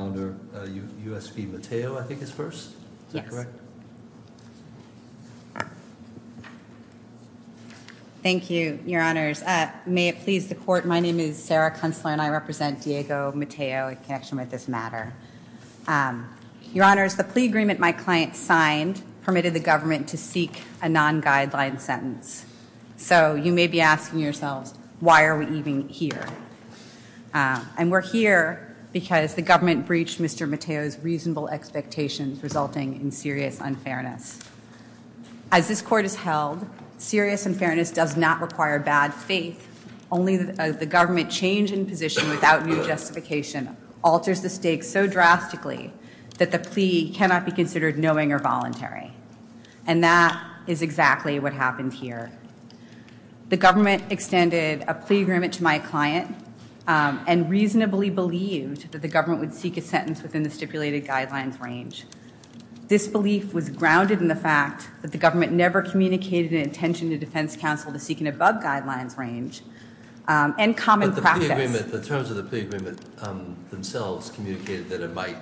I'm going to turn it over to my colleague Sarah Kuntzler and I represent Diego Mateo in connection with this matter. Your Honor, the plea agreement my client signed permitted the government to seek a non-guideline sentence. So you may be asking yourselves, why are we even here? And we're here because the government breached Mr. Mateo's reasonable expectations resulting in serious unfairness. As this court has held, serious unfairness does not require bad faith. Only the government change in position without new justification alters the stakes so drastically that the plea cannot be considered knowing or voluntary. And that is exactly what happened here. The government extended a plea agreement to my client and reasonably believed that the government would seek a sentence within the stipulated guidelines range. This belief was grounded in the fact that the government never communicated an intention to defense counsel to seek an above guidelines range and common practice. The terms of the plea agreement themselves communicated that it might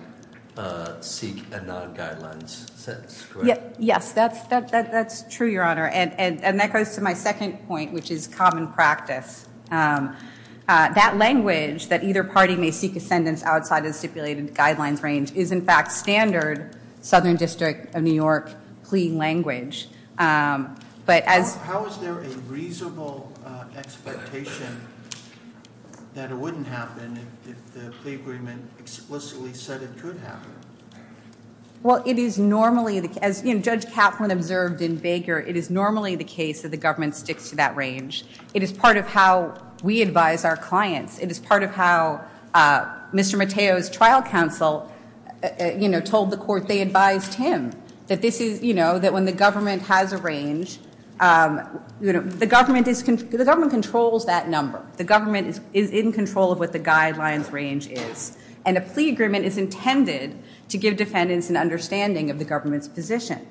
seek a non-guidelines sentence, correct? Yes, that's true, Your Honor. And that goes to my second point, which is common practice. That language, that either party may seek a sentence outside of the stipulated guidelines range, is in fact standard Southern District of New York plea language. How is there a reasonable expectation that it wouldn't happen if the plea agreement explicitly said it could happen? Well, it is normally, as Judge Kaplan observed in Baker, it is normally the case that the government sticks to that range. It is part of how we advise our clients. It is part of how Mr. Mateo's trial counsel told the court they advised him. That when the government has a range, the government controls that number. The government is in control of what the guidelines range is. And a plea agreement is intended to give defendants an understanding of the government's position.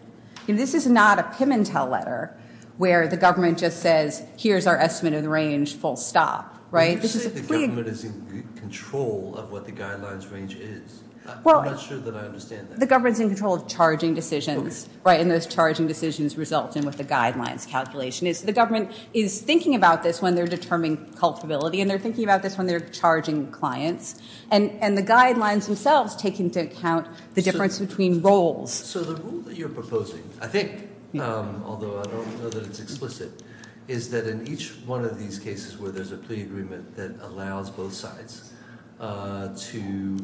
This is not a Pimentel letter where the government just says, here's our estimate of the range, full stop. You say the government is in control of what the guidelines range is. I'm not sure that I understand that. The government is in control of charging decisions. And those charging decisions result in what the guidelines calculation is. The government is thinking about this when they're determining culpability. And they're thinking about this when they're charging clients. And the guidelines themselves take into account the difference between roles. So the rule that you're proposing, I think, although I don't know that it's explicit, is that in each one of these cases where there's a plea agreement that allows both sides to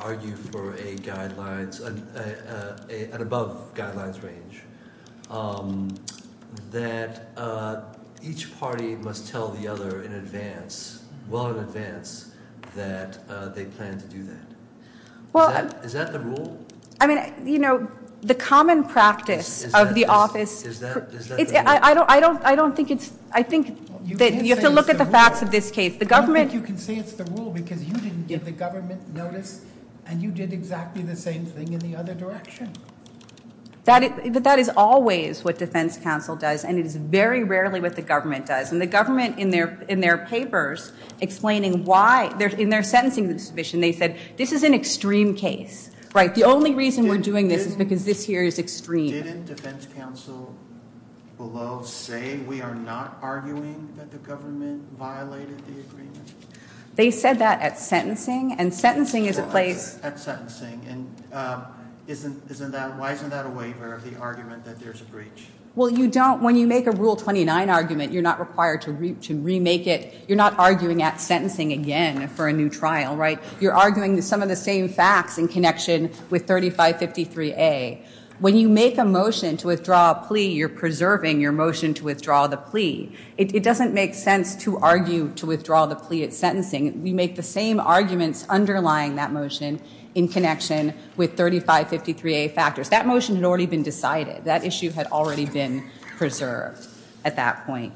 argue for a guidelines, an above guidelines range, that each party must tell the other in advance, well in advance, that they plan to do that. Is that the rule? I mean, you know, the common practice of the office- Is that the rule? I don't think it's- I think that you have to look at the facts of this case. The government- I don't think you can say it's the rule because you didn't give the government notice. And you did exactly the same thing in the other direction. That is always what defense counsel does. And it is very rarely what the government does. And the government, in their papers, explaining why, in their sentencing submission, they said, this is an extreme case. Right? The only reason we're doing this is because this here is extreme. Didn't defense counsel below say we are not arguing that the government violated the agreement? They said that at sentencing. And sentencing is a place- At sentencing. And isn't that- why isn't that a waiver of the argument that there's a breach? Well, you don't- when you make a Rule 29 argument, you're not required to remake it. You're not arguing at sentencing again for a new trial, right? You're arguing some of the same facts in connection with 3553A. When you make a motion to withdraw a plea, you're preserving your motion to withdraw the plea. It doesn't make sense to argue to withdraw the plea at sentencing. We make the same arguments underlying that motion in connection with 3553A factors. That motion had already been decided. That issue had already been preserved at that point.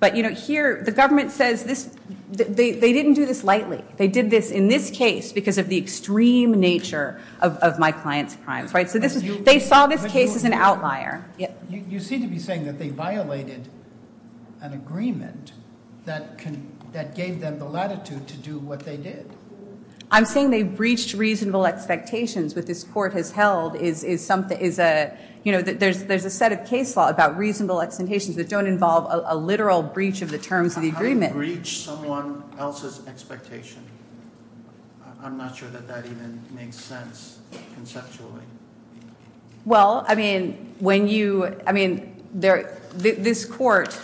But, you know, here, the government says this- they didn't do this lightly. They did this in this case because of the extreme nature of my client's crimes, right? So this is- they saw this case as an outlier. You seem to be saying that they violated an agreement that gave them the latitude to do what they did. I'm saying they breached reasonable expectations. What this court has held is something- is a- you know, there's a set of case law about reasonable expectations that don't involve a literal breach of the terms of the agreement. Breach someone else's expectation. I'm not sure that that even makes sense conceptually. Well, I mean, when you- I mean, this court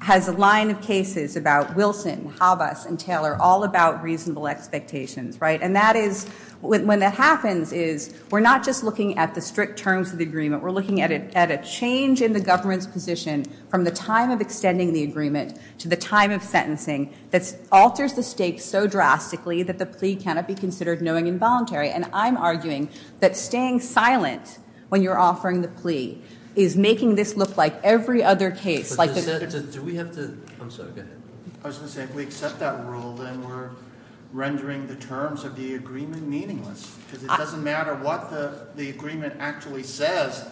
has a line of cases about Wilson, Havas, and Taylor, all about reasonable expectations, right? And that is- when that happens is we're not just looking at the strict terms of the agreement. We're looking at a change in the government's position from the time of extending the agreement to the time of sentencing that alters the state so drastically that the plea cannot be considered knowing involuntary. And I'm arguing that staying silent when you're offering the plea is making this look like every other case. Like the- Do we have to- I'm sorry, go ahead. I was going to say, if we accept that rule, then we're rendering the terms of the agreement meaningless. Because it doesn't matter what the agreement actually says.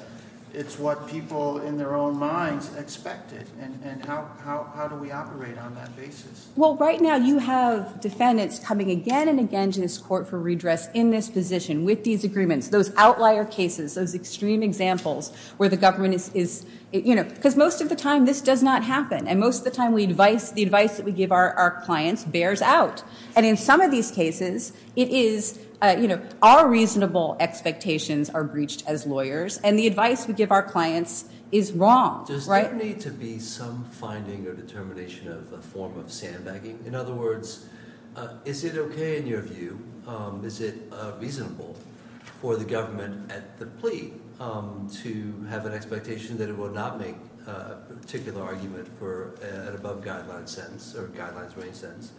It's what people in their own minds expect it. And how do we operate on that basis? Well, right now you have defendants coming again and again to this court for redress in this position with these agreements, those outlier cases, those extreme examples where the government is- because most of the time this does not happen. And most of the time the advice that we give our clients bears out. And in some of these cases, it is- our reasonable expectations are breached as lawyers. And the advice we give our clients is wrong, right? Does there need to be some finding or determination of a form of sandbagging? In other words, is it okay in your view, is it reasonable for the government at the plea to have an expectation that it will not make a particular argument for an above-guideline sentence or a guidelines-range sentence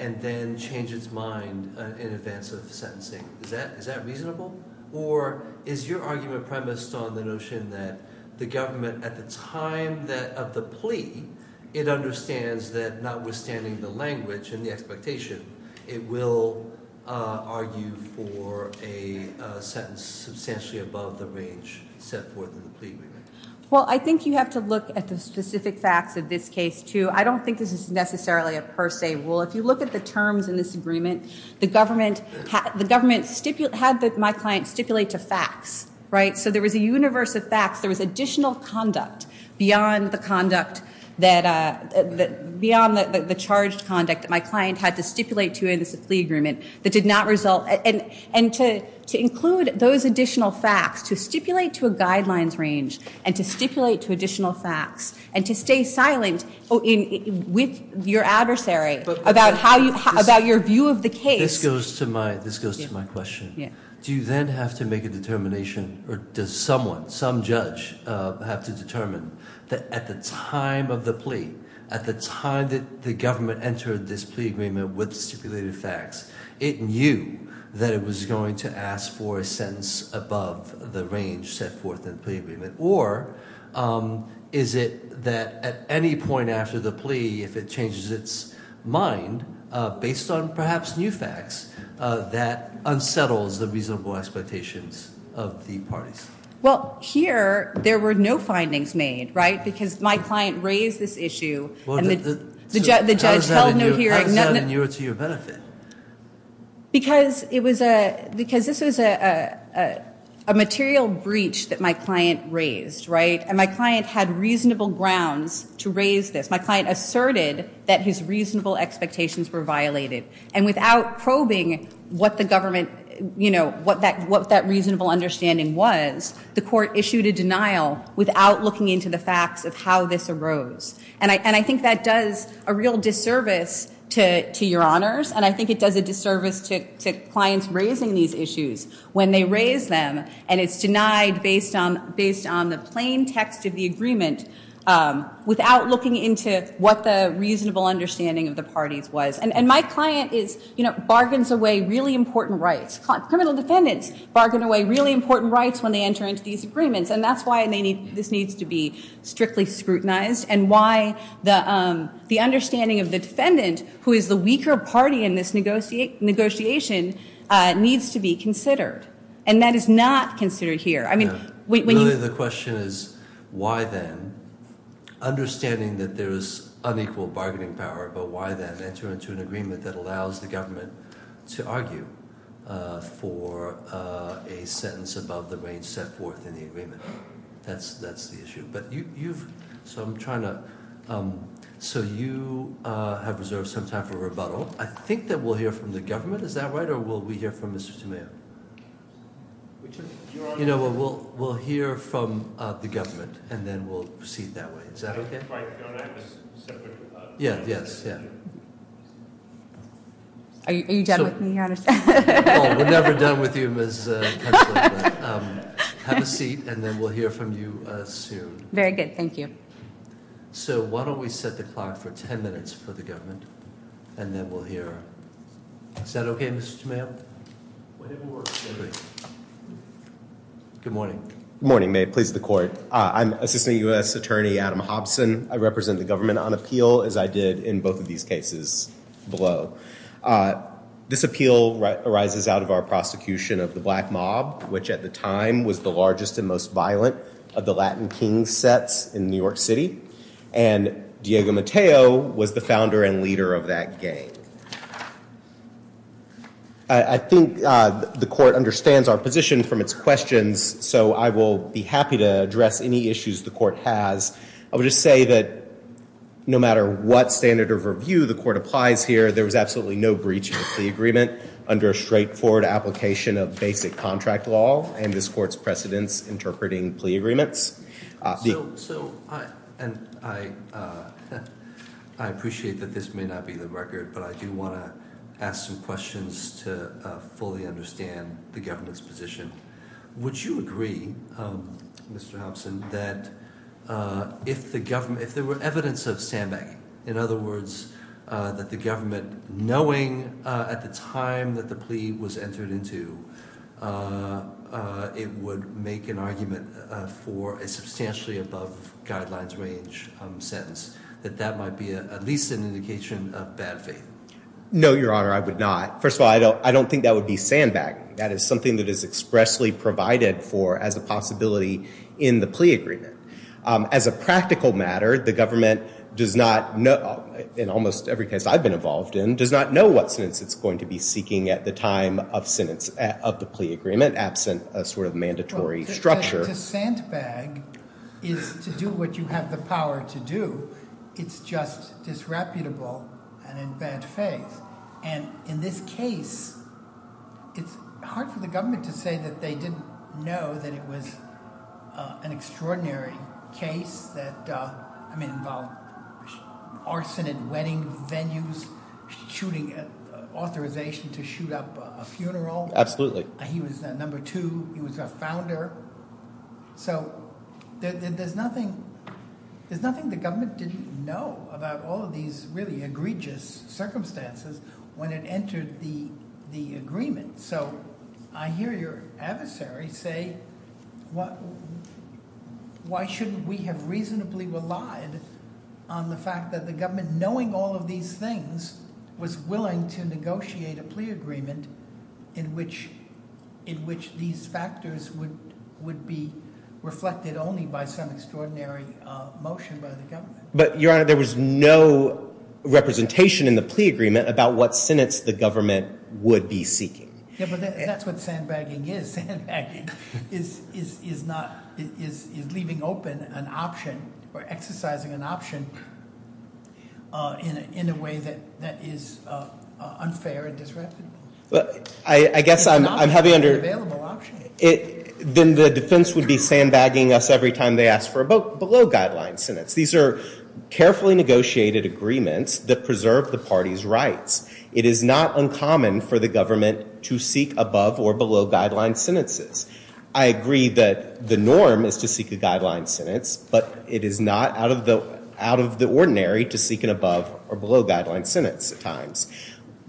and then change its mind in advance of sentencing? Is that reasonable? Or is your argument premised on the notion that the government at the time of the plea, it understands that notwithstanding the language and the expectation, it will argue for a sentence substantially above the range set forth in the plea agreement? Well, I think you have to look at the specific facts of this case too. I don't think this is necessarily a per se rule. If you look at the terms in this agreement, the government had my client stipulate to facts, right? So there was a universe of facts. There was additional conduct beyond the conduct that- beyond the charged conduct that my client had to stipulate to in this plea agreement that did not result. And to include those additional facts, to stipulate to a guidelines range and to stipulate to additional facts and to stay silent with your adversary about how you- about your view of the case. This goes to my- this goes to my question. Yeah. Do you then have to make a determination or does someone, some judge, have to determine that at the time of the plea, at the time that the government entered this plea agreement with stipulated facts, it knew that it was going to ask for a sentence above the range set forth in the plea agreement? Or is it that at any point after the plea, if it changes its mind based on perhaps new facts, that unsettles the reasonable expectations of the parties? Well, here there were no findings made, right? Because my client raised this issue and the judge held no hearing. How is that in your- to your benefit? Because it was a- because this was a material breach that my client raised, right? And my client had reasonable grounds to raise this. My client asserted that his reasonable expectations were violated. And without probing what the government, you know, what that reasonable understanding was, the court issued a denial without looking into the facts of how this arose. And I- and I think that does a real disservice to- to your honors. And I think it does a disservice to- to clients raising these issues when they raise them and it's denied based on- based on the plain text of the agreement without looking into what the reasonable understanding of the parties was. And- and my client is, you know, bargains away really important rights. Criminal defendants bargain away really important rights when they enter into these agreements. And that's why they need- this needs to be strictly scrutinized and why the- the understanding of the defendant, who is the weaker party in this negotiate- negotiation, needs to be considered. And that is not considered here. I mean, when you- Really the question is, why then? Understanding that there is unequal bargaining power, but why then enter into an agreement that allows the government to argue for a sentence above the range set forth in the agreement? That's- that's the issue. But you- you've- so I'm trying to- so you have reserved some time for rebuttal. I think that we'll hear from the government. Is that right? Or will we hear from Mr. Tamayo? You know, we'll- we'll hear from the government and then we'll proceed that way. Is that okay? Right. We don't have a separate rebuttal. Yeah. Yes. Yeah. Are you done with me, honestly? No, we're never done with you, Ms. Kuchler. Have a seat and then we'll hear from you soon. Very good. Thank you. So why don't we set the clock for ten minutes for the government and then we'll hear- is that okay, Mr. Tamayo? Good morning. Good morning. May it please the court. I'm Assistant U.S. Attorney Adam Hobson. I represent the government on appeal as I did in both of these cases below. This appeal arises out of our prosecution of the Black Mob, which at the time was the largest and most violent of the Latin King sets in New York City, and Diego Mateo was the founder and leader of that gang. I think the court understands our position from its questions, so I will be happy to address any issues the court has. I would just say that no matter what standard of review the court applies here, there was absolutely no breach of the plea agreement under a straightforward application of basic contract law and this court's precedents interpreting plea agreements. I appreciate that this may not be the record, but I do want to ask some questions to fully understand the government's position. Would you agree, Mr. Hobson, that if the government- if there were evidence of sandbagging, in other words that the government knowing at the time that the plea was entered into, it would make an argument for a substantially above guidelines range sentence, that that might be at least an indication of bad faith? No, Your Honor, I would not. First of all, I don't think that would be sandbagging. That is something that is expressly provided for as a possibility in the plea agreement. As a practical matter, the government does not know- in almost every case I've been involved in- does not know what sentence it's going to be seeking at the time of the plea agreement, absent a sort of mandatory structure. To sandbag is to do what you have the power to do. It's just disreputable and in bad faith. And in this case, it's hard for the government to say that they didn't know that it was an extraordinary case that, I mean, involved arson at wedding venues, shooting at authorization to shoot up a funeral. Absolutely. He was number two. He was a founder. So there's nothing the government didn't know about all of these really egregious circumstances when it entered the agreement. So I hear your adversary say, why shouldn't we have reasonably relied on the fact that the government, knowing all of these things, was willing to negotiate a plea agreement in which these factors would be reflected only by some extraordinary motion by the government. But, Your Honor, there was no representation in the plea agreement about what sentence the government would be seeking. Yeah, but that's what sandbagging is. Sandbagging is leaving open an option or exercising an option in a way that is unfair and disreputable. I guess I'm heavy under... It's not an unavailable option. Then the defense would be sandbagging us every time they ask for a below-guideline sentence. These are carefully negotiated agreements that preserve the party's rights. It is not uncommon for the government to seek above- or below-guideline sentences. I agree that the norm is to seek a guideline sentence, but it is not out of the ordinary to seek an above- or below-guideline sentence at times.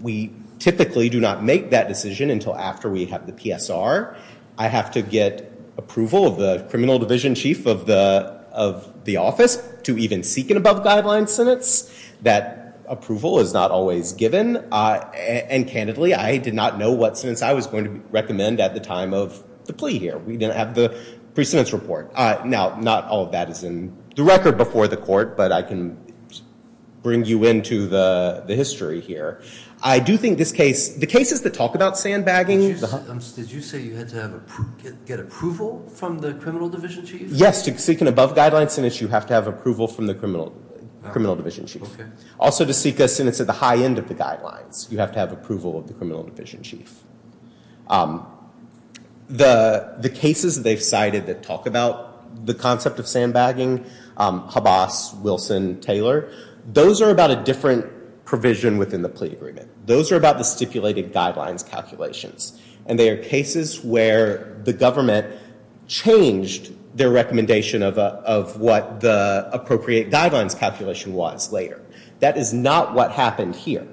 We typically do not make that decision until after we have the PSR. I have to get approval of the criminal division chief of the office to even seek an above-guideline sentence. That approval is not always given. And, candidly, I did not know what sentence I was going to recommend at the time of the plea here. We didn't have the precedence report. Now, not all of that is in the record before the court, but I can bring you into the history here. I do think the cases that talk about sandbagging... Did you say you had to get approval from the criminal division chief? Yes, to seek an above-guideline sentence, you have to have approval from the criminal division chief. Also, to seek a sentence at the high end of the guidelines, you have to have approval of the criminal division chief. The cases that they've cited that talk about the concept of sandbagging, Habas, Wilson, Taylor, those are about a different provision within the plea agreement. Those are about the stipulated guidelines calculations, and they are cases where the government changed their recommendation of what the appropriate guidelines calculation was later. That is not what happened here.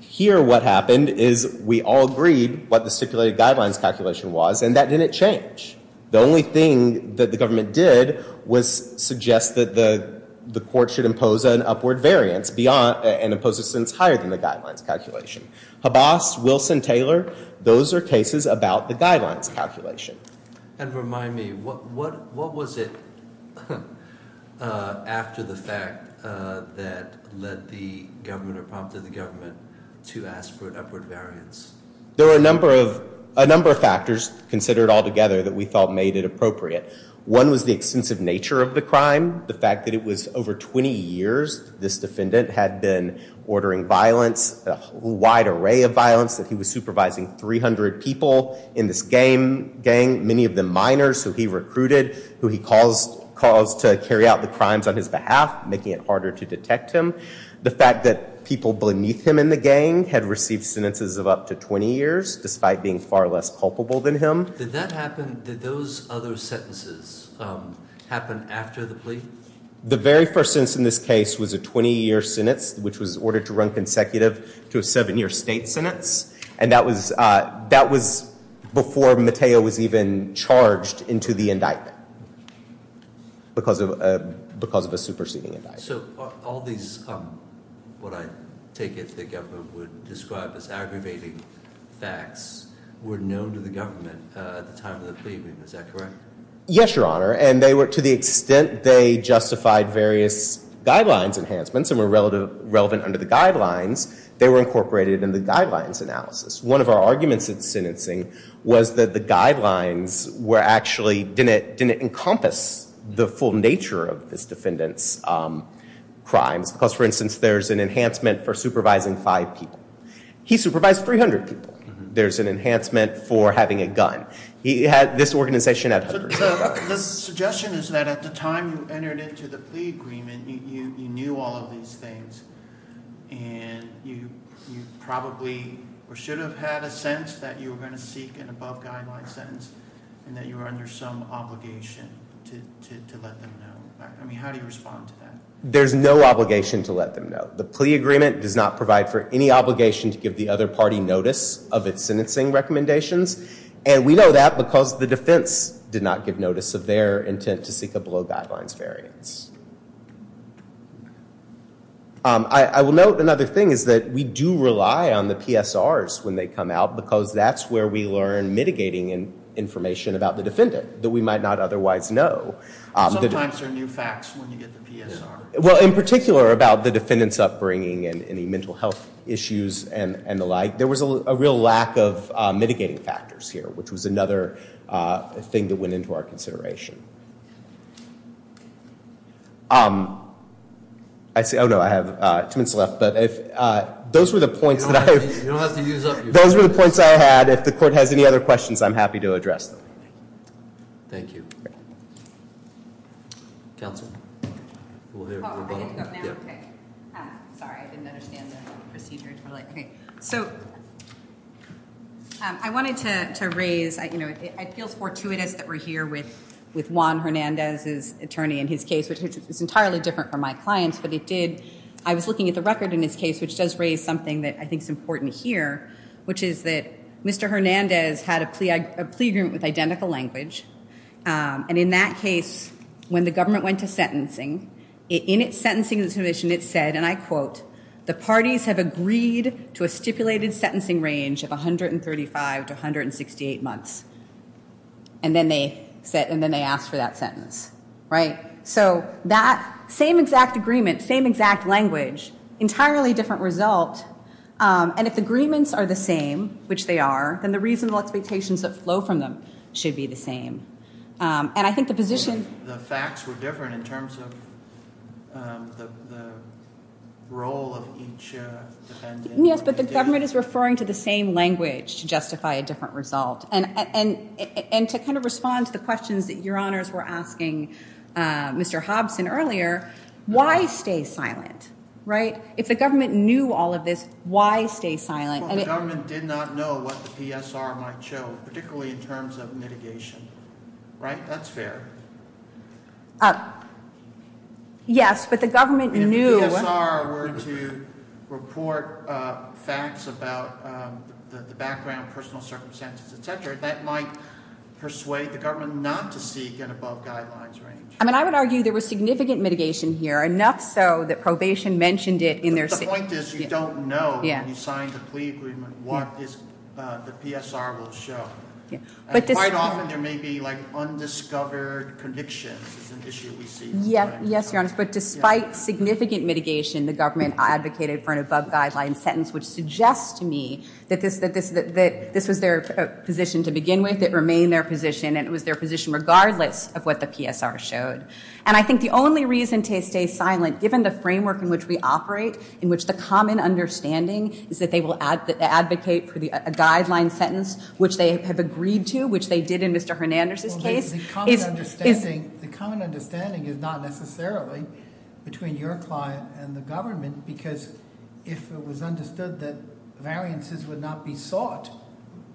Here, what happened is we all agreed what the stipulated guidelines calculation was, and that didn't change. The only thing that the government did was suggest that the court should impose an upward variance and impose a sentence higher than the guidelines calculation. Habas, Wilson, Taylor, those are cases about the guidelines calculation. And remind me, what was it after the fact that led the government or prompted the government to ask for an upward variance? There were a number of factors considered altogether that we thought made it appropriate. One was the extensive nature of the crime, the fact that it was over 20 years this defendant had been ordering violence, a wide array of violence, that he was supervising 300 people in this gang, many of them minors who he recruited, who he caused to carry out the crimes on his behalf, making it harder to detect him. The fact that people beneath him in the gang had received sentences of up to 20 years, despite being far less culpable than him. Did that happen, did those other sentences happen after the plea? The very first sentence in this case was a 20-year sentence, which was ordered to run consecutive to a seven-year state sentence. And that was before Mateo was even charged into the indictment because of a superseding indictment. So all these, what I take it the government would describe as aggravating facts, were known to the government at the time of the plea. Is that correct? Yes, Your Honor, and to the extent they justified various guidelines enhancements and were relevant under the guidelines, they were incorporated in the guidelines analysis. One of our arguments in sentencing was that the guidelines were actually, didn't encompass the full nature of this defendant's crimes. Because, for instance, there's an enhancement for supervising five people. He supervised 300 people. There's an enhancement for having a gun. This organization had hundreds of guns. The suggestion is that at the time you entered into the plea agreement, you knew all of these things and you probably or should have had a sense that you were going to seek an above-guideline sentence and that you were under some obligation to let them know. I mean, how do you respond to that? There's no obligation to let them know. The plea agreement does not provide for any obligation to give the other party notice of its sentencing recommendations, and we know that because the defense did not give notice of their intent to seek a below-guidelines variance. I will note another thing is that we do rely on the PSRs when they come out because that's where we learn mitigating information about the defendant that we might not otherwise know. Sometimes there are new facts when you get the PSR. Well, in particular about the defendant's upbringing and any mental health issues and the like, there was a real lack of mitigating factors here, which was another thing that went into our consideration. Oh, no, I have two minutes left, but those were the points that I have. You don't have to use up your time. Those were the points I had. If the court has any other questions, I'm happy to address them. Thank you. Counsel? Sorry, I didn't understand the procedure. So I wanted to raise, you know, it feels fortuitous that we're here with Juan Hernandez's attorney in his case, which is entirely different from my client's, but it did. I was looking at the record in his case, which does raise something that I think is important here, which is that Mr. Hernandez had a plea agreement with identical language, and in that case, when the government went to sentencing, in its sentencing submission, it said, and I quote, the parties have agreed to a stipulated sentencing range of 135 to 168 months, and then they asked for that sentence, right? So that same exact agreement, same exact language, entirely different result, and if the agreements are the same, which they are, then the reasonable expectations that flow from them should be the same. And I think the position of the facts were different in terms of the role of each defendant. Yes, but the government is referring to the same language to justify a different result, and to kind of respond to the questions that your honors were asking Mr. Hobson earlier, why stay silent, right? If the government knew all of this, why stay silent? Well, the government did not know what the PSR might show, particularly in terms of mitigation, right? That's fair. Yes, but the government knew. If the PSR were to report facts about the background, personal circumstances, et cetera, that might persuade the government not to seek an above guidelines range. I mean, I would argue there was significant mitigation here, enough so that probation mentioned it in their statement. My point is you don't know when you sign the plea agreement what the PSR will show. Quite often there may be undiscovered convictions is an issue we see. Yes, your honors, but despite significant mitigation, the government advocated for an above guidelines sentence, which suggests to me that this was their position to begin with, it remained their position, and it was their position regardless of what the PSR showed. And I think the only reason to stay silent, given the framework in which we operate, in which the common understanding is that they will advocate for a guideline sentence, which they have agreed to, which they did in Mr. Hernandez's case. The common understanding is not necessarily between your client and the government because if it was understood that variances would not be sought,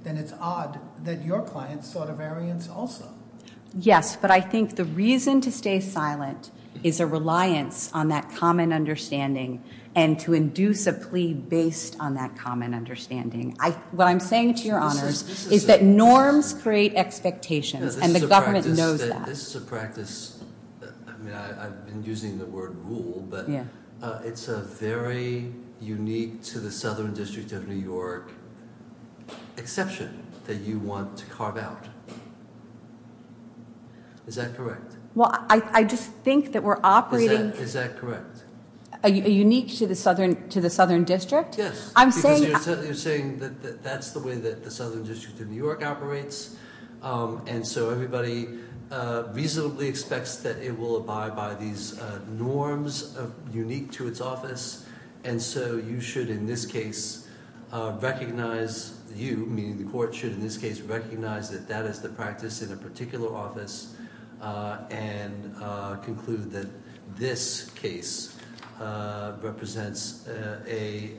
then it's odd that your client sought a variance also. Yes, but I think the reason to stay silent is a reliance on that common understanding and to induce a plea based on that common understanding. What I'm saying to your honors is that norms create expectations and the government knows that. This is a practice, I've been using the word rule, but it's a very unique to the Southern District of New York exception that you want to carve out. Is that correct? Well, I just think that we're operating- Is that correct? Unique to the Southern District? Yes. I'm saying- Because you're saying that that's the way that the Southern District of New York operates, and so everybody reasonably expects that it will abide by these norms unique to its office, and so you should in this case recognize- you, meaning the court, should in this case recognize that that is the practice in a particular office and conclude that this case represents a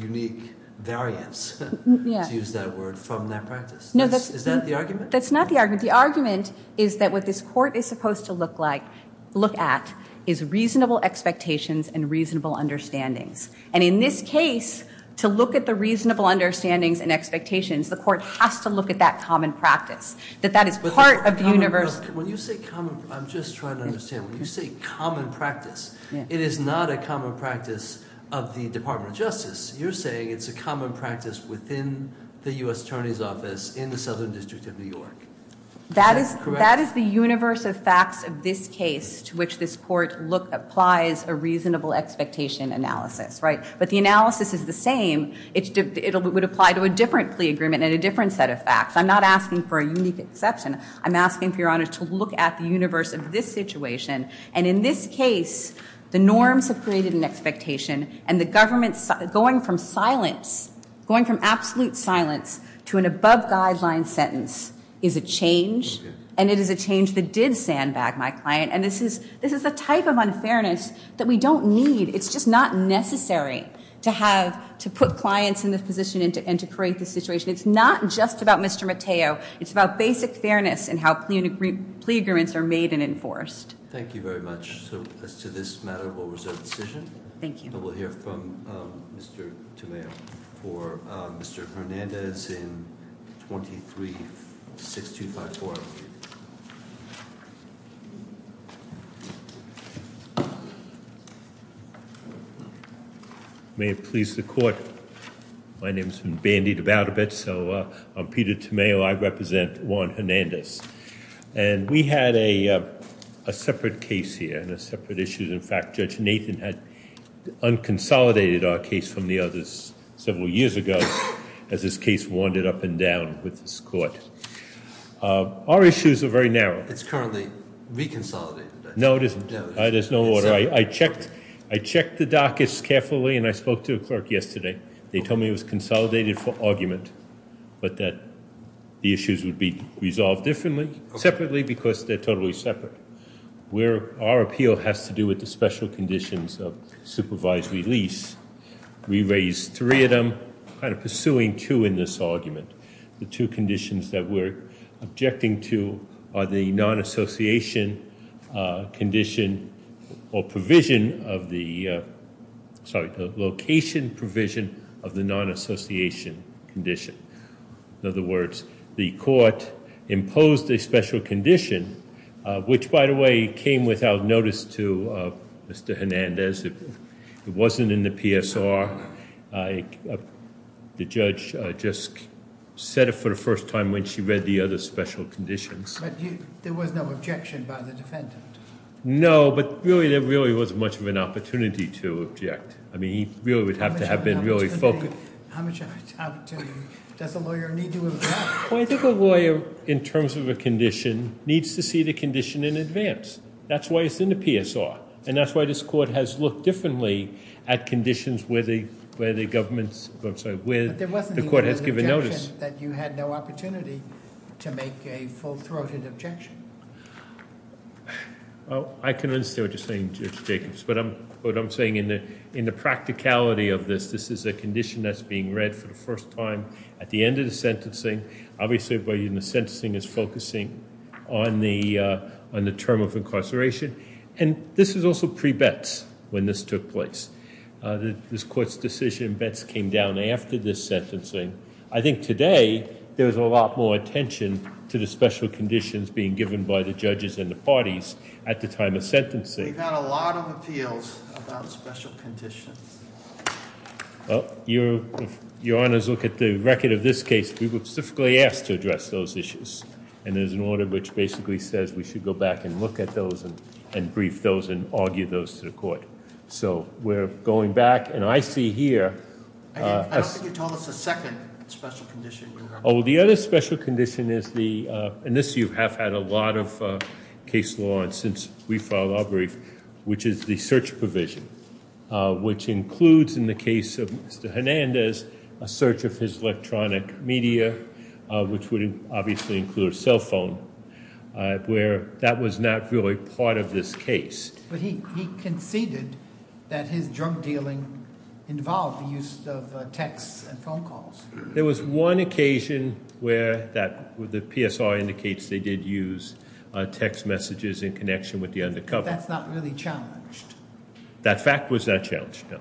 unique variance, to use that word, from that practice. Is that the argument? That's not the argument. The argument is that what this court is supposed to look at is reasonable expectations and reasonable understandings. And in this case, to look at the reasonable understandings and expectations, the court has to look at that common practice, that that is part of the universe- When you say common- I'm just trying to understand. When you say common practice, it is not a common practice of the Department of Justice. You're saying it's a common practice within the U.S. Attorney's Office in the Southern District of New York. Is that correct? That is the universe of facts of this case to which this court applies a reasonable expectation analysis. But the analysis is the same. It would apply to a different plea agreement and a different set of facts. I'm not asking for a unique exception. I'm asking, for your honor, to look at the universe of this situation. And in this case, the norms have created an expectation. And the government going from silence, going from absolute silence, to an above-guideline sentence is a change. And it is a change that did sandbag my client. And this is a type of unfairness that we don't need. It's just not necessary to put clients in this position and to create this situation. It's not just about Mr. Mateo. It's about basic fairness in how plea agreements are made and enforced. Thank you very much. So, as to this matter, we'll reserve the decision. Thank you. And we'll hear from Mr. Tomeo for Mr. Hernandez in 23-6254. May it please the court. My name's been bandied about a bit, so I'm Peter Tomeo. I represent Juan Hernandez. And we had a separate case here and a separate issue. In fact, Judge Nathan had unconsolidated our case from the others several years ago as this case wandered up and down with this court. Our issues are very narrow. It's currently reconsolidated. No, it isn't. There's no order. I checked the dockets carefully, and I spoke to a clerk yesterday. They told me it was consolidated for argument, but that the issues would be resolved separately because they're totally separate. Our appeal has to do with the special conditions of supervised release. We raised three of them, kind of pursuing two in this argument. The two conditions that we're objecting to are the location provision of the non-association condition. In other words, the court imposed a special condition, which, by the way, came without notice to Mr. Hernandez. It wasn't in the PSR. The judge just said it for the first time when she read the other special conditions. But there was no objection by the defendant? No, but really there wasn't much of an opportunity to object. I mean, he really would have to have been really focused. How much opportunity does a lawyer need to have? Well, I think a lawyer, in terms of a condition, needs to see the condition in advance. That's why it's in the PSR. And that's why this court has looked differently at conditions where the court has given notice. But there wasn't even an objection that you had no opportunity to make a full-throated objection? Well, I can understand what you're saying, Judge Jacobs. But what I'm saying in the practicality of this, this is a condition that's being read for the first time at the end of the sentencing. Obviously, the sentencing is focusing on the term of incarceration. And this is also pre-Betz when this took place. This court's decision in Betz came down after this sentencing. I think today there's a lot more attention to the special conditions being given by the judges and the parties at the time of sentencing. We've had a lot of appeals about special conditions. Well, if your honors look at the record of this case, we were specifically asked to address those issues. And there's an order which basically says we should go back and look at those and brief those and argue those to the court. So we're going back. And I see here. I don't think you told us the second special condition. Oh, the other special condition is the, and this you have had a lot of case law since we filed our brief, which is the search provision. Which includes, in the case of Mr. Hernandez, a search of his electronic media, which would obviously include a cell phone, where that was not really part of this case. But he conceded that his drug dealing involved the use of texts and phone calls. There was one occasion where the PSR indicates they did use text messages in connection with the undercover. But that's not really challenged. That fact was not challenged, no.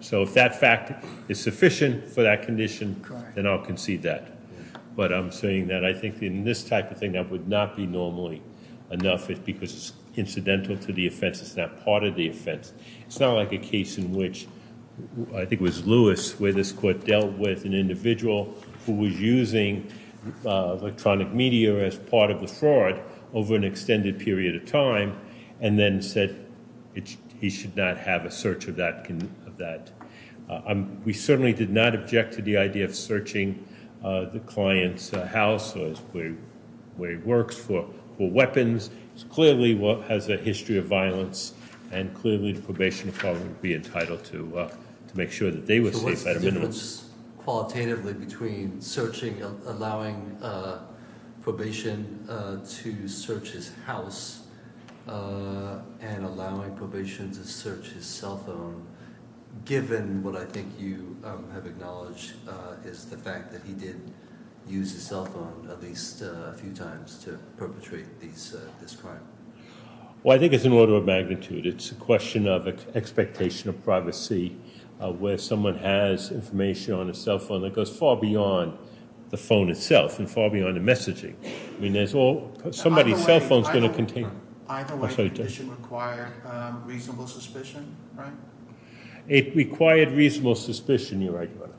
So if that fact is sufficient for that condition, then I'll concede that. But I'm saying that I think in this type of thing, that would not be normally enough because it's incidental to the offense. It's not part of the offense. It's not like a case in which, I think it was Lewis, where this court dealt with an individual who was using electronic media as part of the fraud over an extended period of time. And then said he should not have a search of that. We certainly did not object to the idea of searching the client's house, or the way it works, for weapons. Clearly, it has a history of violence. And clearly, the probation department would be entitled to make sure that they were safe at a minimum. Is there a difference qualitatively between searching, allowing probation to search his house, and allowing probation to search his cell phone, given what I think you have acknowledged is the fact that he did use his cell phone at least a few times to perpetrate this crime? Well, I think it's an order of magnitude. It's a question of expectation of privacy where someone has information on a cell phone that goes far beyond the phone itself and far beyond the messaging. I mean, somebody's cell phone is going to contain- Either way, the condition required reasonable suspicion, right? It required reasonable suspicion, you're right, Your Honor.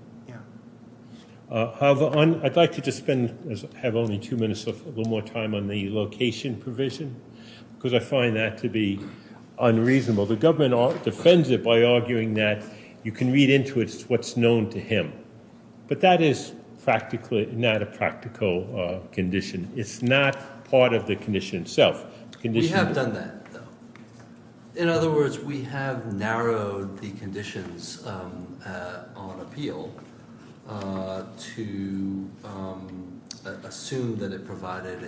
Yeah. However, I'd like to just spend, have only two minutes, a little more time on the location provision because I find that to be unreasonable. The government defends it by arguing that you can read into it what's known to him. But that is practically not a practical condition. It's not part of the condition itself. We have done that, though. In other words, we have narrowed the conditions on appeal to assume that it provided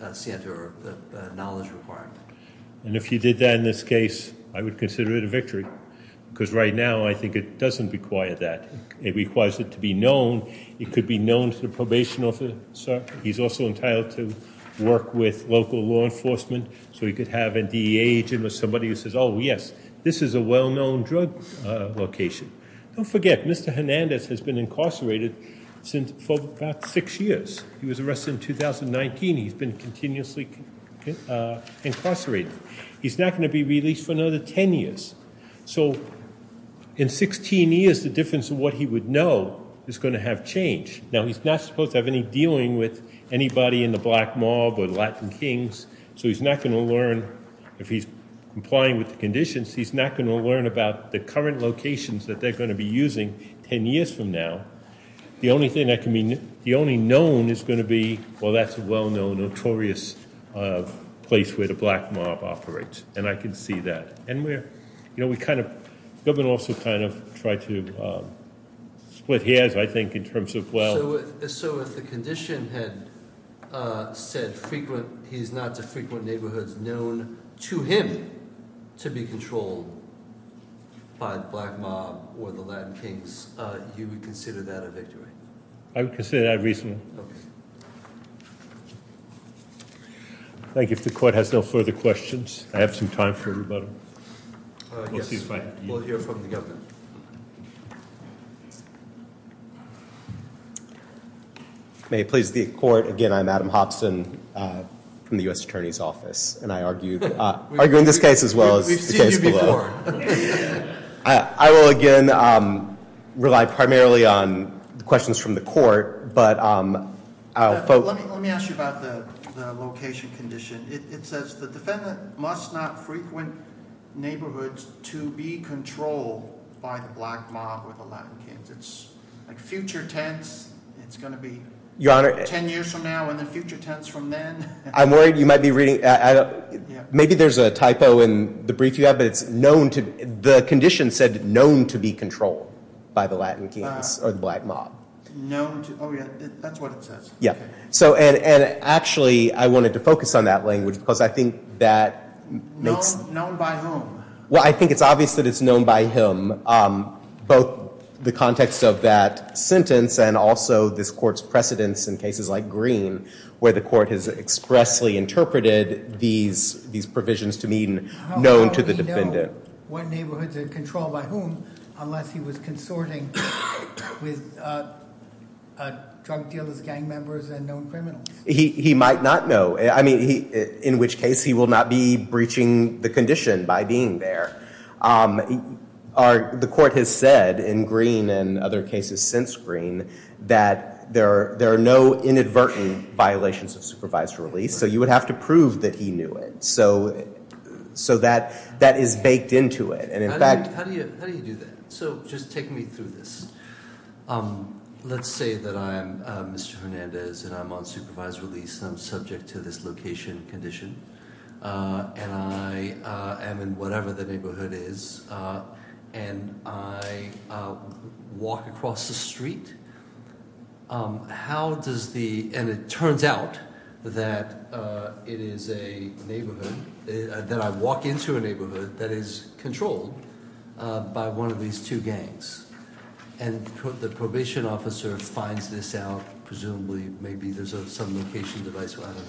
a scientific knowledge requirement. And if you did that in this case, I would consider it a victory because right now I think it doesn't require that. It requires it to be known. It could be known to the probation officer. He's also entitled to work with local law enforcement so he could have a DEA agent or somebody who says, oh, yes, this is a well-known drug location. Don't forget, Mr. Hernandez has been incarcerated for about six years. He was arrested in 2019. He's been continuously incarcerated. He's not going to be released for another 10 years. So in 16 years, the difference of what he would know is going to have changed. Now, he's not supposed to have any dealing with anybody in the black mob or the Latin kings. So he's not going to learn, if he's complying with the conditions, he's not going to learn about the current locations that they're going to be using 10 years from now. The only known is going to be, well, that's a well-known, notorious place where the black mob operates. And I can see that. The government will also kind of try to split hairs, I think, in terms of, well. So if the condition had said he's not to frequent neighborhoods known to him to be controlled by the black mob or the Latin kings, you would consider that a victory? I would consider that reasonable. Thank you. If the court has no further questions, I have some time for everybody. Yes, we'll hear from the government. May it please the court. Again, I'm Adam Hobson from the U.S. Attorney's Office. And I argue in this case as well as the case below. I will, again, rely primarily on questions from the court. Let me ask you about the location condition. It says the defendant must not frequent neighborhoods to be controlled by the black mob or the Latin kings. It's like future tense. It's going to be 10 years from now and then future tense from then. I'm worried you might be reading. Maybe there's a typo in the brief you have, but the condition said known to be controlled by the Latin kings or the black mob. Oh, yeah, that's what it says. And actually, I wanted to focus on that language because I think that makes... Known by whom? Well, I think it's obvious that it's known by him. Both the context of that sentence and also this court's precedence in cases like Green where the court has expressly interpreted these provisions to mean known to the defendant. What neighborhoods are controlled by whom unless he was consorting with drug dealers, gang members, and known criminals? He might not know. I mean, in which case he will not be breaching the condition by being there. The court has said in Green and other cases since Green that there are no inadvertent violations of supervised release. So you would have to prove that he knew it. So that is baked into it. And in fact... How do you do that? So just take me through this. Let's say that I'm Mr. Hernandez and I'm on supervised release and I'm subject to this location condition. And I am in whatever the neighborhood is. And I walk across the street. How does the... And it turns out that it is a neighborhood... That I walk into a neighborhood that is controlled by one of these two gangs. And the probation officer finds this out. Presumably, maybe there's some location device. Well, I don't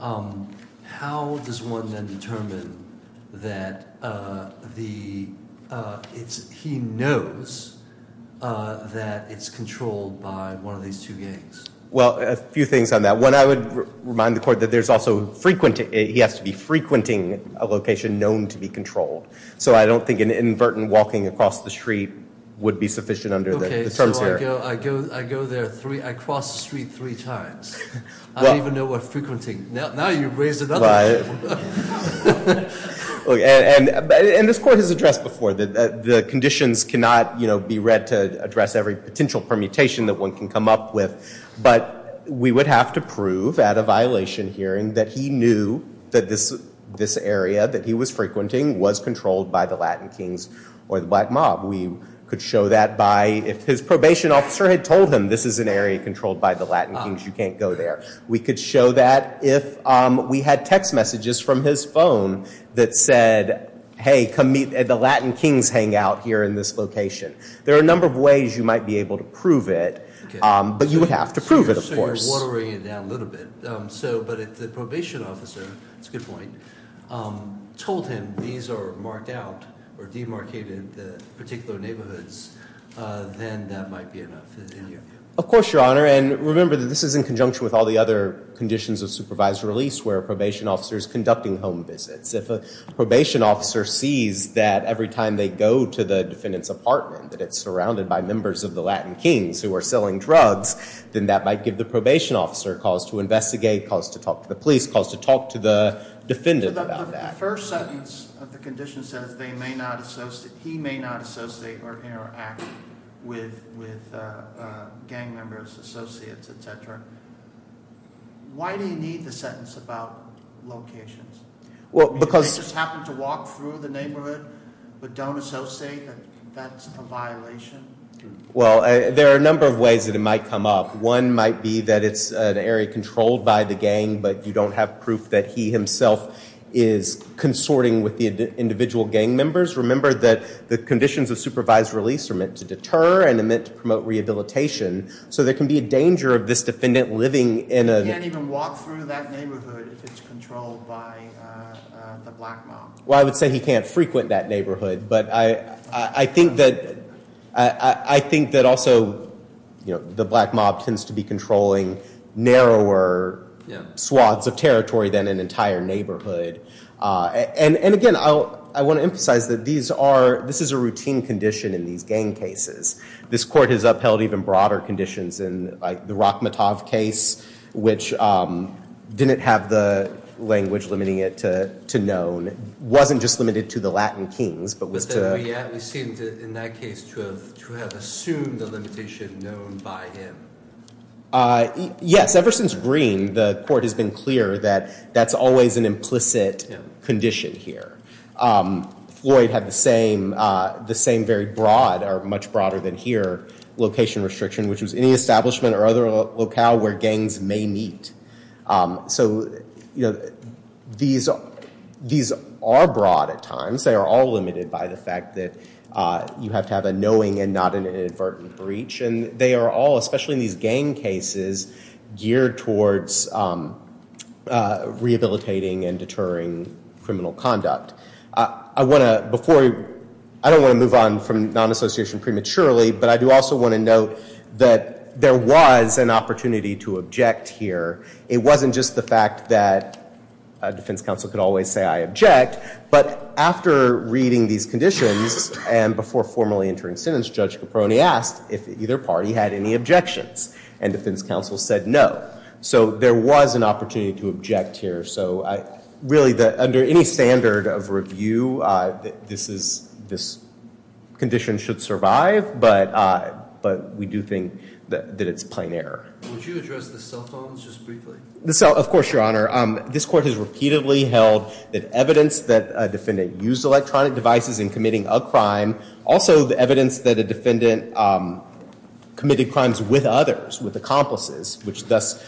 know. How does one then determine that he knows that it's controlled by one of these two gangs? Well, a few things on that. One, I would remind the court that there's also frequent... He has to be frequenting a location known to be controlled. So I don't think an inadvertent walking across the street would be sufficient under the terms here. Okay, so I go there three... I cross the street three times. I don't even know what frequenting... Now you've raised another issue. And this court has addressed before that the conditions cannot be read to address every potential permutation that one can come up with. But we would have to prove at a violation hearing that he knew that this area that he was frequenting was controlled by the Latin Kings or the Black Mob. We could show that by... If his probation officer had told him this is an area controlled by the Latin Kings, you can't go there. We could show that if we had text messages from his phone that said, hey, come meet at the Latin Kings hangout here in this location. There are a number of ways you might be able to prove it. But you would have to prove it, of course. So you're watering it down a little bit. But if the probation officer, that's a good point, told him these are marked out or demarcated particular neighborhoods, then that might be enough. Of course, Your Honor. And remember that this is in conjunction with all the other conditions of supervised release where a probation officer is conducting home visits. If a probation officer sees that every time they go to the defendant's apartment that it's surrounded by members of the Latin Kings who are selling drugs, then that might give the probation officer calls to investigate, calls to talk to the police, calls to talk to the defendant about that. The first sentence of the condition says they may not associate – he may not associate or interact with gang members, associates, et cetera. Why do you need the sentence about locations? Do they just happen to walk through the neighborhood but don't associate that that's a violation? Well, there are a number of ways that it might come up. One might be that it's an area controlled by the gang but you don't have proof that he himself is consorting with the individual gang members. Remember that the conditions of supervised release are meant to deter and are meant to promote rehabilitation. So there can be a danger of this defendant living in a- He can walk through that neighborhood if it's controlled by the black mob. Well, I would say he can't frequent that neighborhood. But I think that also the black mob tends to be controlling narrower swaths of territory than an entire neighborhood. And again, I want to emphasize that these are – this is a routine condition in these gang cases. This court has upheld even broader conditions in, like, the Rachmatov case, which didn't have the language limiting it to known. It wasn't just limited to the Latin kings but was to- But then we seem to, in that case, to have assumed the limitation known by him. Yes. Ever since Green, the court has been clear that that's always an implicit condition here. Floyd had the same very broad, or much broader than here, location restriction, which was any establishment or other locale where gangs may meet. So, you know, these are broad at times. They are all limited by the fact that you have to have a knowing and not an inadvertent breach. And they are all, especially in these gang cases, geared towards rehabilitating and deterring criminal conduct. I want to – before – I don't want to move on from non-association prematurely. But I do also want to note that there was an opportunity to object here. It wasn't just the fact that a defense counsel could always say I object. But after reading these conditions and before formally entering sentence, Judge Caproni asked if either party had any objections. And defense counsel said no. So there was an opportunity to object here. So really, under any standard of review, this condition should survive. But we do think that it's plain error. Would you address the cell phones just briefly? Of course, Your Honor. This court has repeatedly held that evidence that a defendant used electronic devices in committing a crime, also the evidence that a defendant committed crimes with others, with accomplices, which thus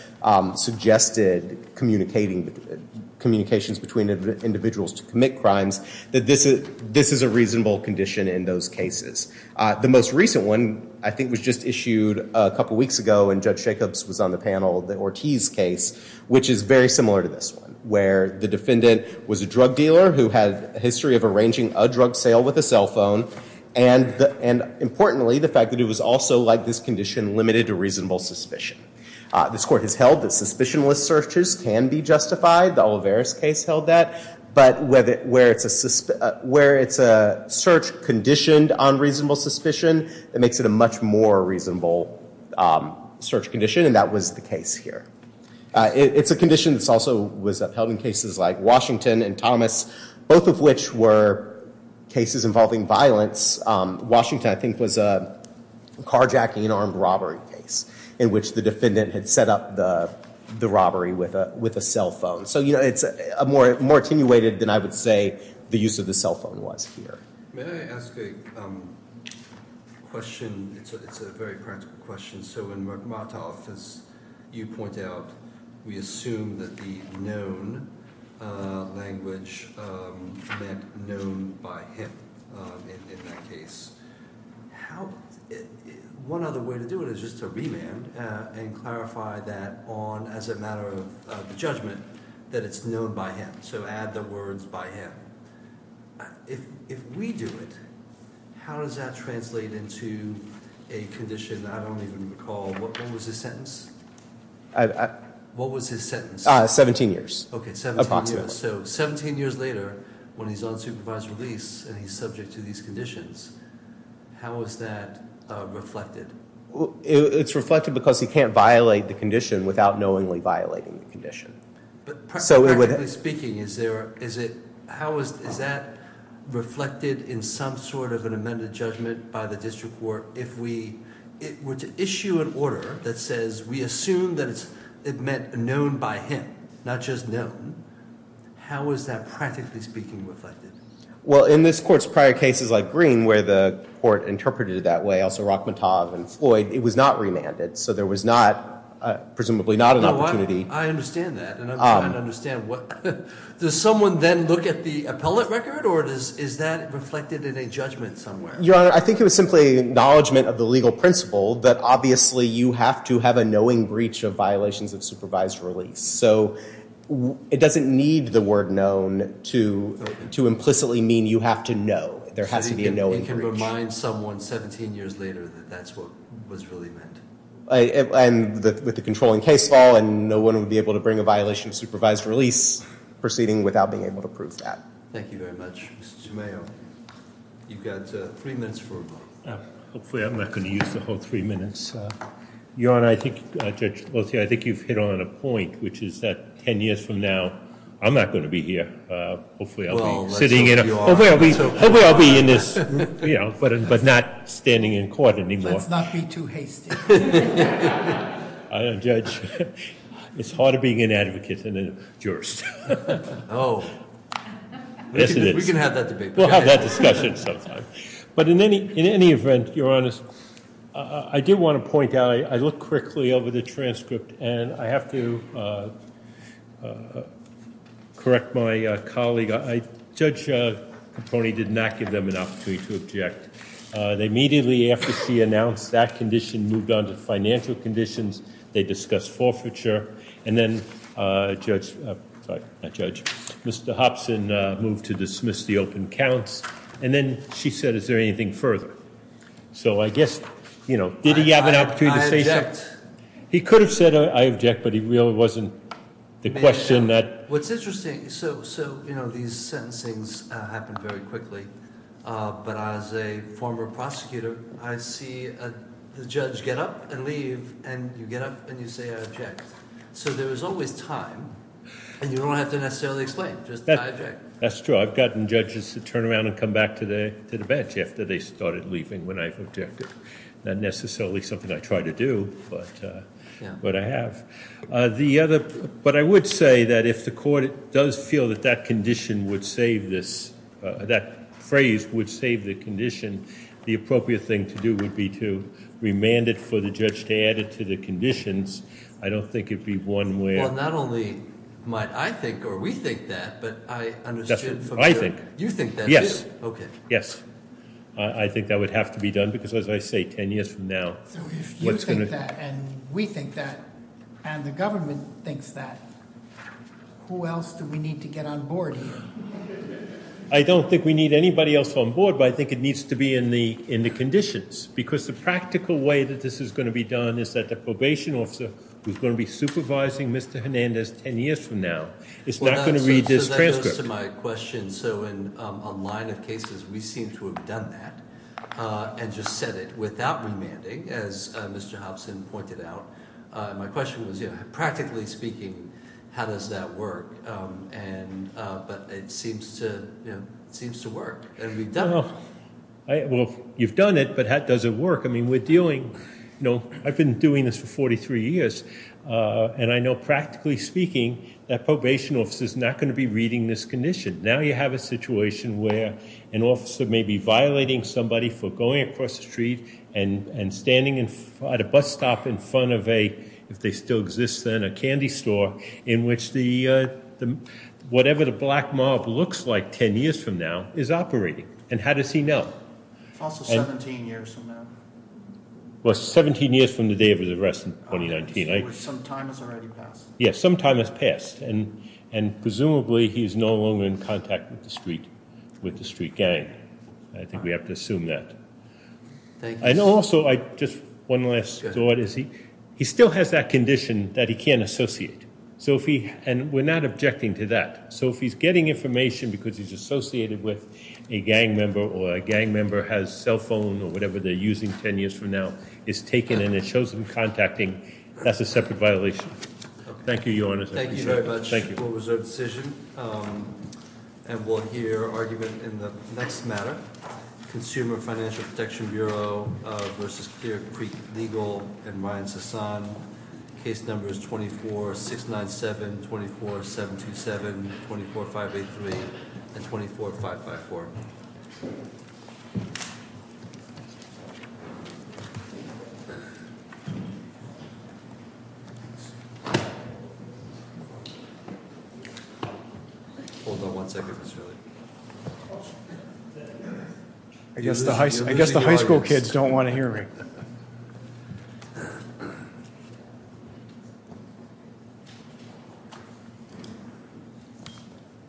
suggested communications between individuals to commit crimes, that this is a reasonable condition in those cases. The most recent one, I think, was just issued a couple weeks ago, and Judge Jacobs was on the panel, the Ortiz case, which is very similar to this one, where the defendant was a drug dealer who had a history of arranging a drug sale with a cell phone. And importantly, the fact that it was also, like this condition, limited to reasonable suspicion. This court has held that suspicionless searches can be justified. The Olivares case held that. But where it's a search conditioned on reasonable suspicion, it makes it a much more reasonable search condition, and that was the case here. It's a condition that also was upheld in cases like Washington and Thomas, both of which were cases involving violence. Washington, I think, was a carjacking and armed robbery case in which the defendant had set up the robbery with a cell phone. So it's more attenuated than I would say the use of the cell phone was here. May I ask a question? It's a very practical question. So in Murmatov, as you point out, we assume that the known language meant known by him in that case. One other way to do it is just to remand and clarify that on as a matter of judgment, that it's known by him. So add the words by him. If we do it, how does that translate into a condition I don't even recall? When was his sentence? What was his sentence? 17 years. Okay, 17 years. So 17 years later, when he's on supervised release and he's subject to these conditions, how is that reflected? It's reflected because he can't violate the condition without knowingly violating the condition. Practically speaking, is that reflected in some sort of an amended judgment by the district court? If we were to issue an order that says we assume that it meant known by him, not just known, how is that practically speaking reflected? Well, in this court's prior cases like Green where the court interpreted it that way, also Rachmatov and Floyd, it was not remanded, so there was presumably not an opportunity. I understand that, and I'm trying to understand, does someone then look at the appellate record, or is that reflected in a judgment somewhere? Your Honor, I think it was simply acknowledgement of the legal principle that obviously you have to have a knowing breach of violations of supervised release. So it doesn't need the word known to implicitly mean you have to know. There has to be a knowing breach. It can remind someone 17 years later that that's what was really meant. And with the controlling case law, and no one would be able to bring a violation of supervised release proceeding without being able to prove that. Thank you very much. Mr. Chumayo, you've got three minutes for a vote. Hopefully I'm not going to use the whole three minutes. Your Honor, I think Judge Lothi, I think you've hit on a point, which is that 10 years from now, I'm not going to be here. Hopefully I'll be sitting in a- Well, let's hope you are. Hopefully I'll be in this, but not standing in court anymore. Let's not be too hasty. Judge, it's harder being an advocate than a jurist. Oh. Yes, it is. We can have that debate. We'll have that discussion sometime. But in any event, Your Honor, I do want to point out, I looked quickly over the transcript, and I have to correct my colleague. Judge Caproni did not give them an opportunity to object. Immediately after she announced that condition, moved on to financial conditions. They discussed forfeiture. And then Judge, sorry, not Judge, Mr. Hopson moved to dismiss the open counts. And then she said, is there anything further? So I guess, you know, did he have an opportunity to say something? I object. He could have said, I object, but he really wasn't the question that- What's interesting, so, you know, these sentencings happen very quickly. But as a former prosecutor, I see the judge get up and leave, and you get up and you say, I object. So there is always time, and you don't have to necessarily explain, just I object. That's true. I've gotten judges to turn around and come back to the bench after they started leaving when I've objected. Not necessarily something I try to do, but I have. But I would say that if the court does feel that that condition would save this, that phrase would save the condition, the appropriate thing to do would be to remand it for the judge to add it to the conditions. I don't think it would be one where- Well, not only might I think or we think that, but I understood- That's what I think. You think that too? Okay. Yes. I think that would have to be done, because as I say, 10 years from now- So if you think that and we think that and the government thinks that, who else do we need to get on board here? I don't think we need anybody else on board, but I think it needs to be in the conditions, because the practical way that this is going to be done is that the probation officer, who's going to be supervising Mr. Hernandez 10 years from now, is not going to read this transcript. That goes to my question. So in a line of cases, we seem to have done that and just said it without remanding, as Mr. Hobson pointed out. My question was, practically speaking, how does that work? But it seems to work, and we've done it. Well, you've done it, but how does it work? I mean, we're dealing- I've been doing this for 43 years, and I know practically speaking that probation officers are not going to be reading this condition. Now you have a situation where an officer may be violating somebody for going across the street and standing at a bus stop in front of a, if they still exist then, a candy store, in which whatever the black mob looks like 10 years from now is operating. And how does he know? Also 17 years from now. Well, 17 years from the day of his arrest in 2019. Some time has already passed. Yes, some time has passed, and presumably he is no longer in contact with the street gang. I think we have to assume that. Thank you. And also, just one last thought, is he still has that condition that he can't associate. And we're not objecting to that. So if he's getting information because he's associated with a gang member or a gang member has a cell phone or whatever they're using 10 years from now, it's taken and it shows them contacting, that's a separate violation. Thank you, Your Honor. Thank you very much. What was our decision? And we'll hear argument in the next matter, Consumer Financial Protection Bureau versus Clear Creek Legal and Ryan Sasan. Case numbers 24-697-24727, 24-583, and 24-554. I guess the high school kids don't want to hear me. Thank you.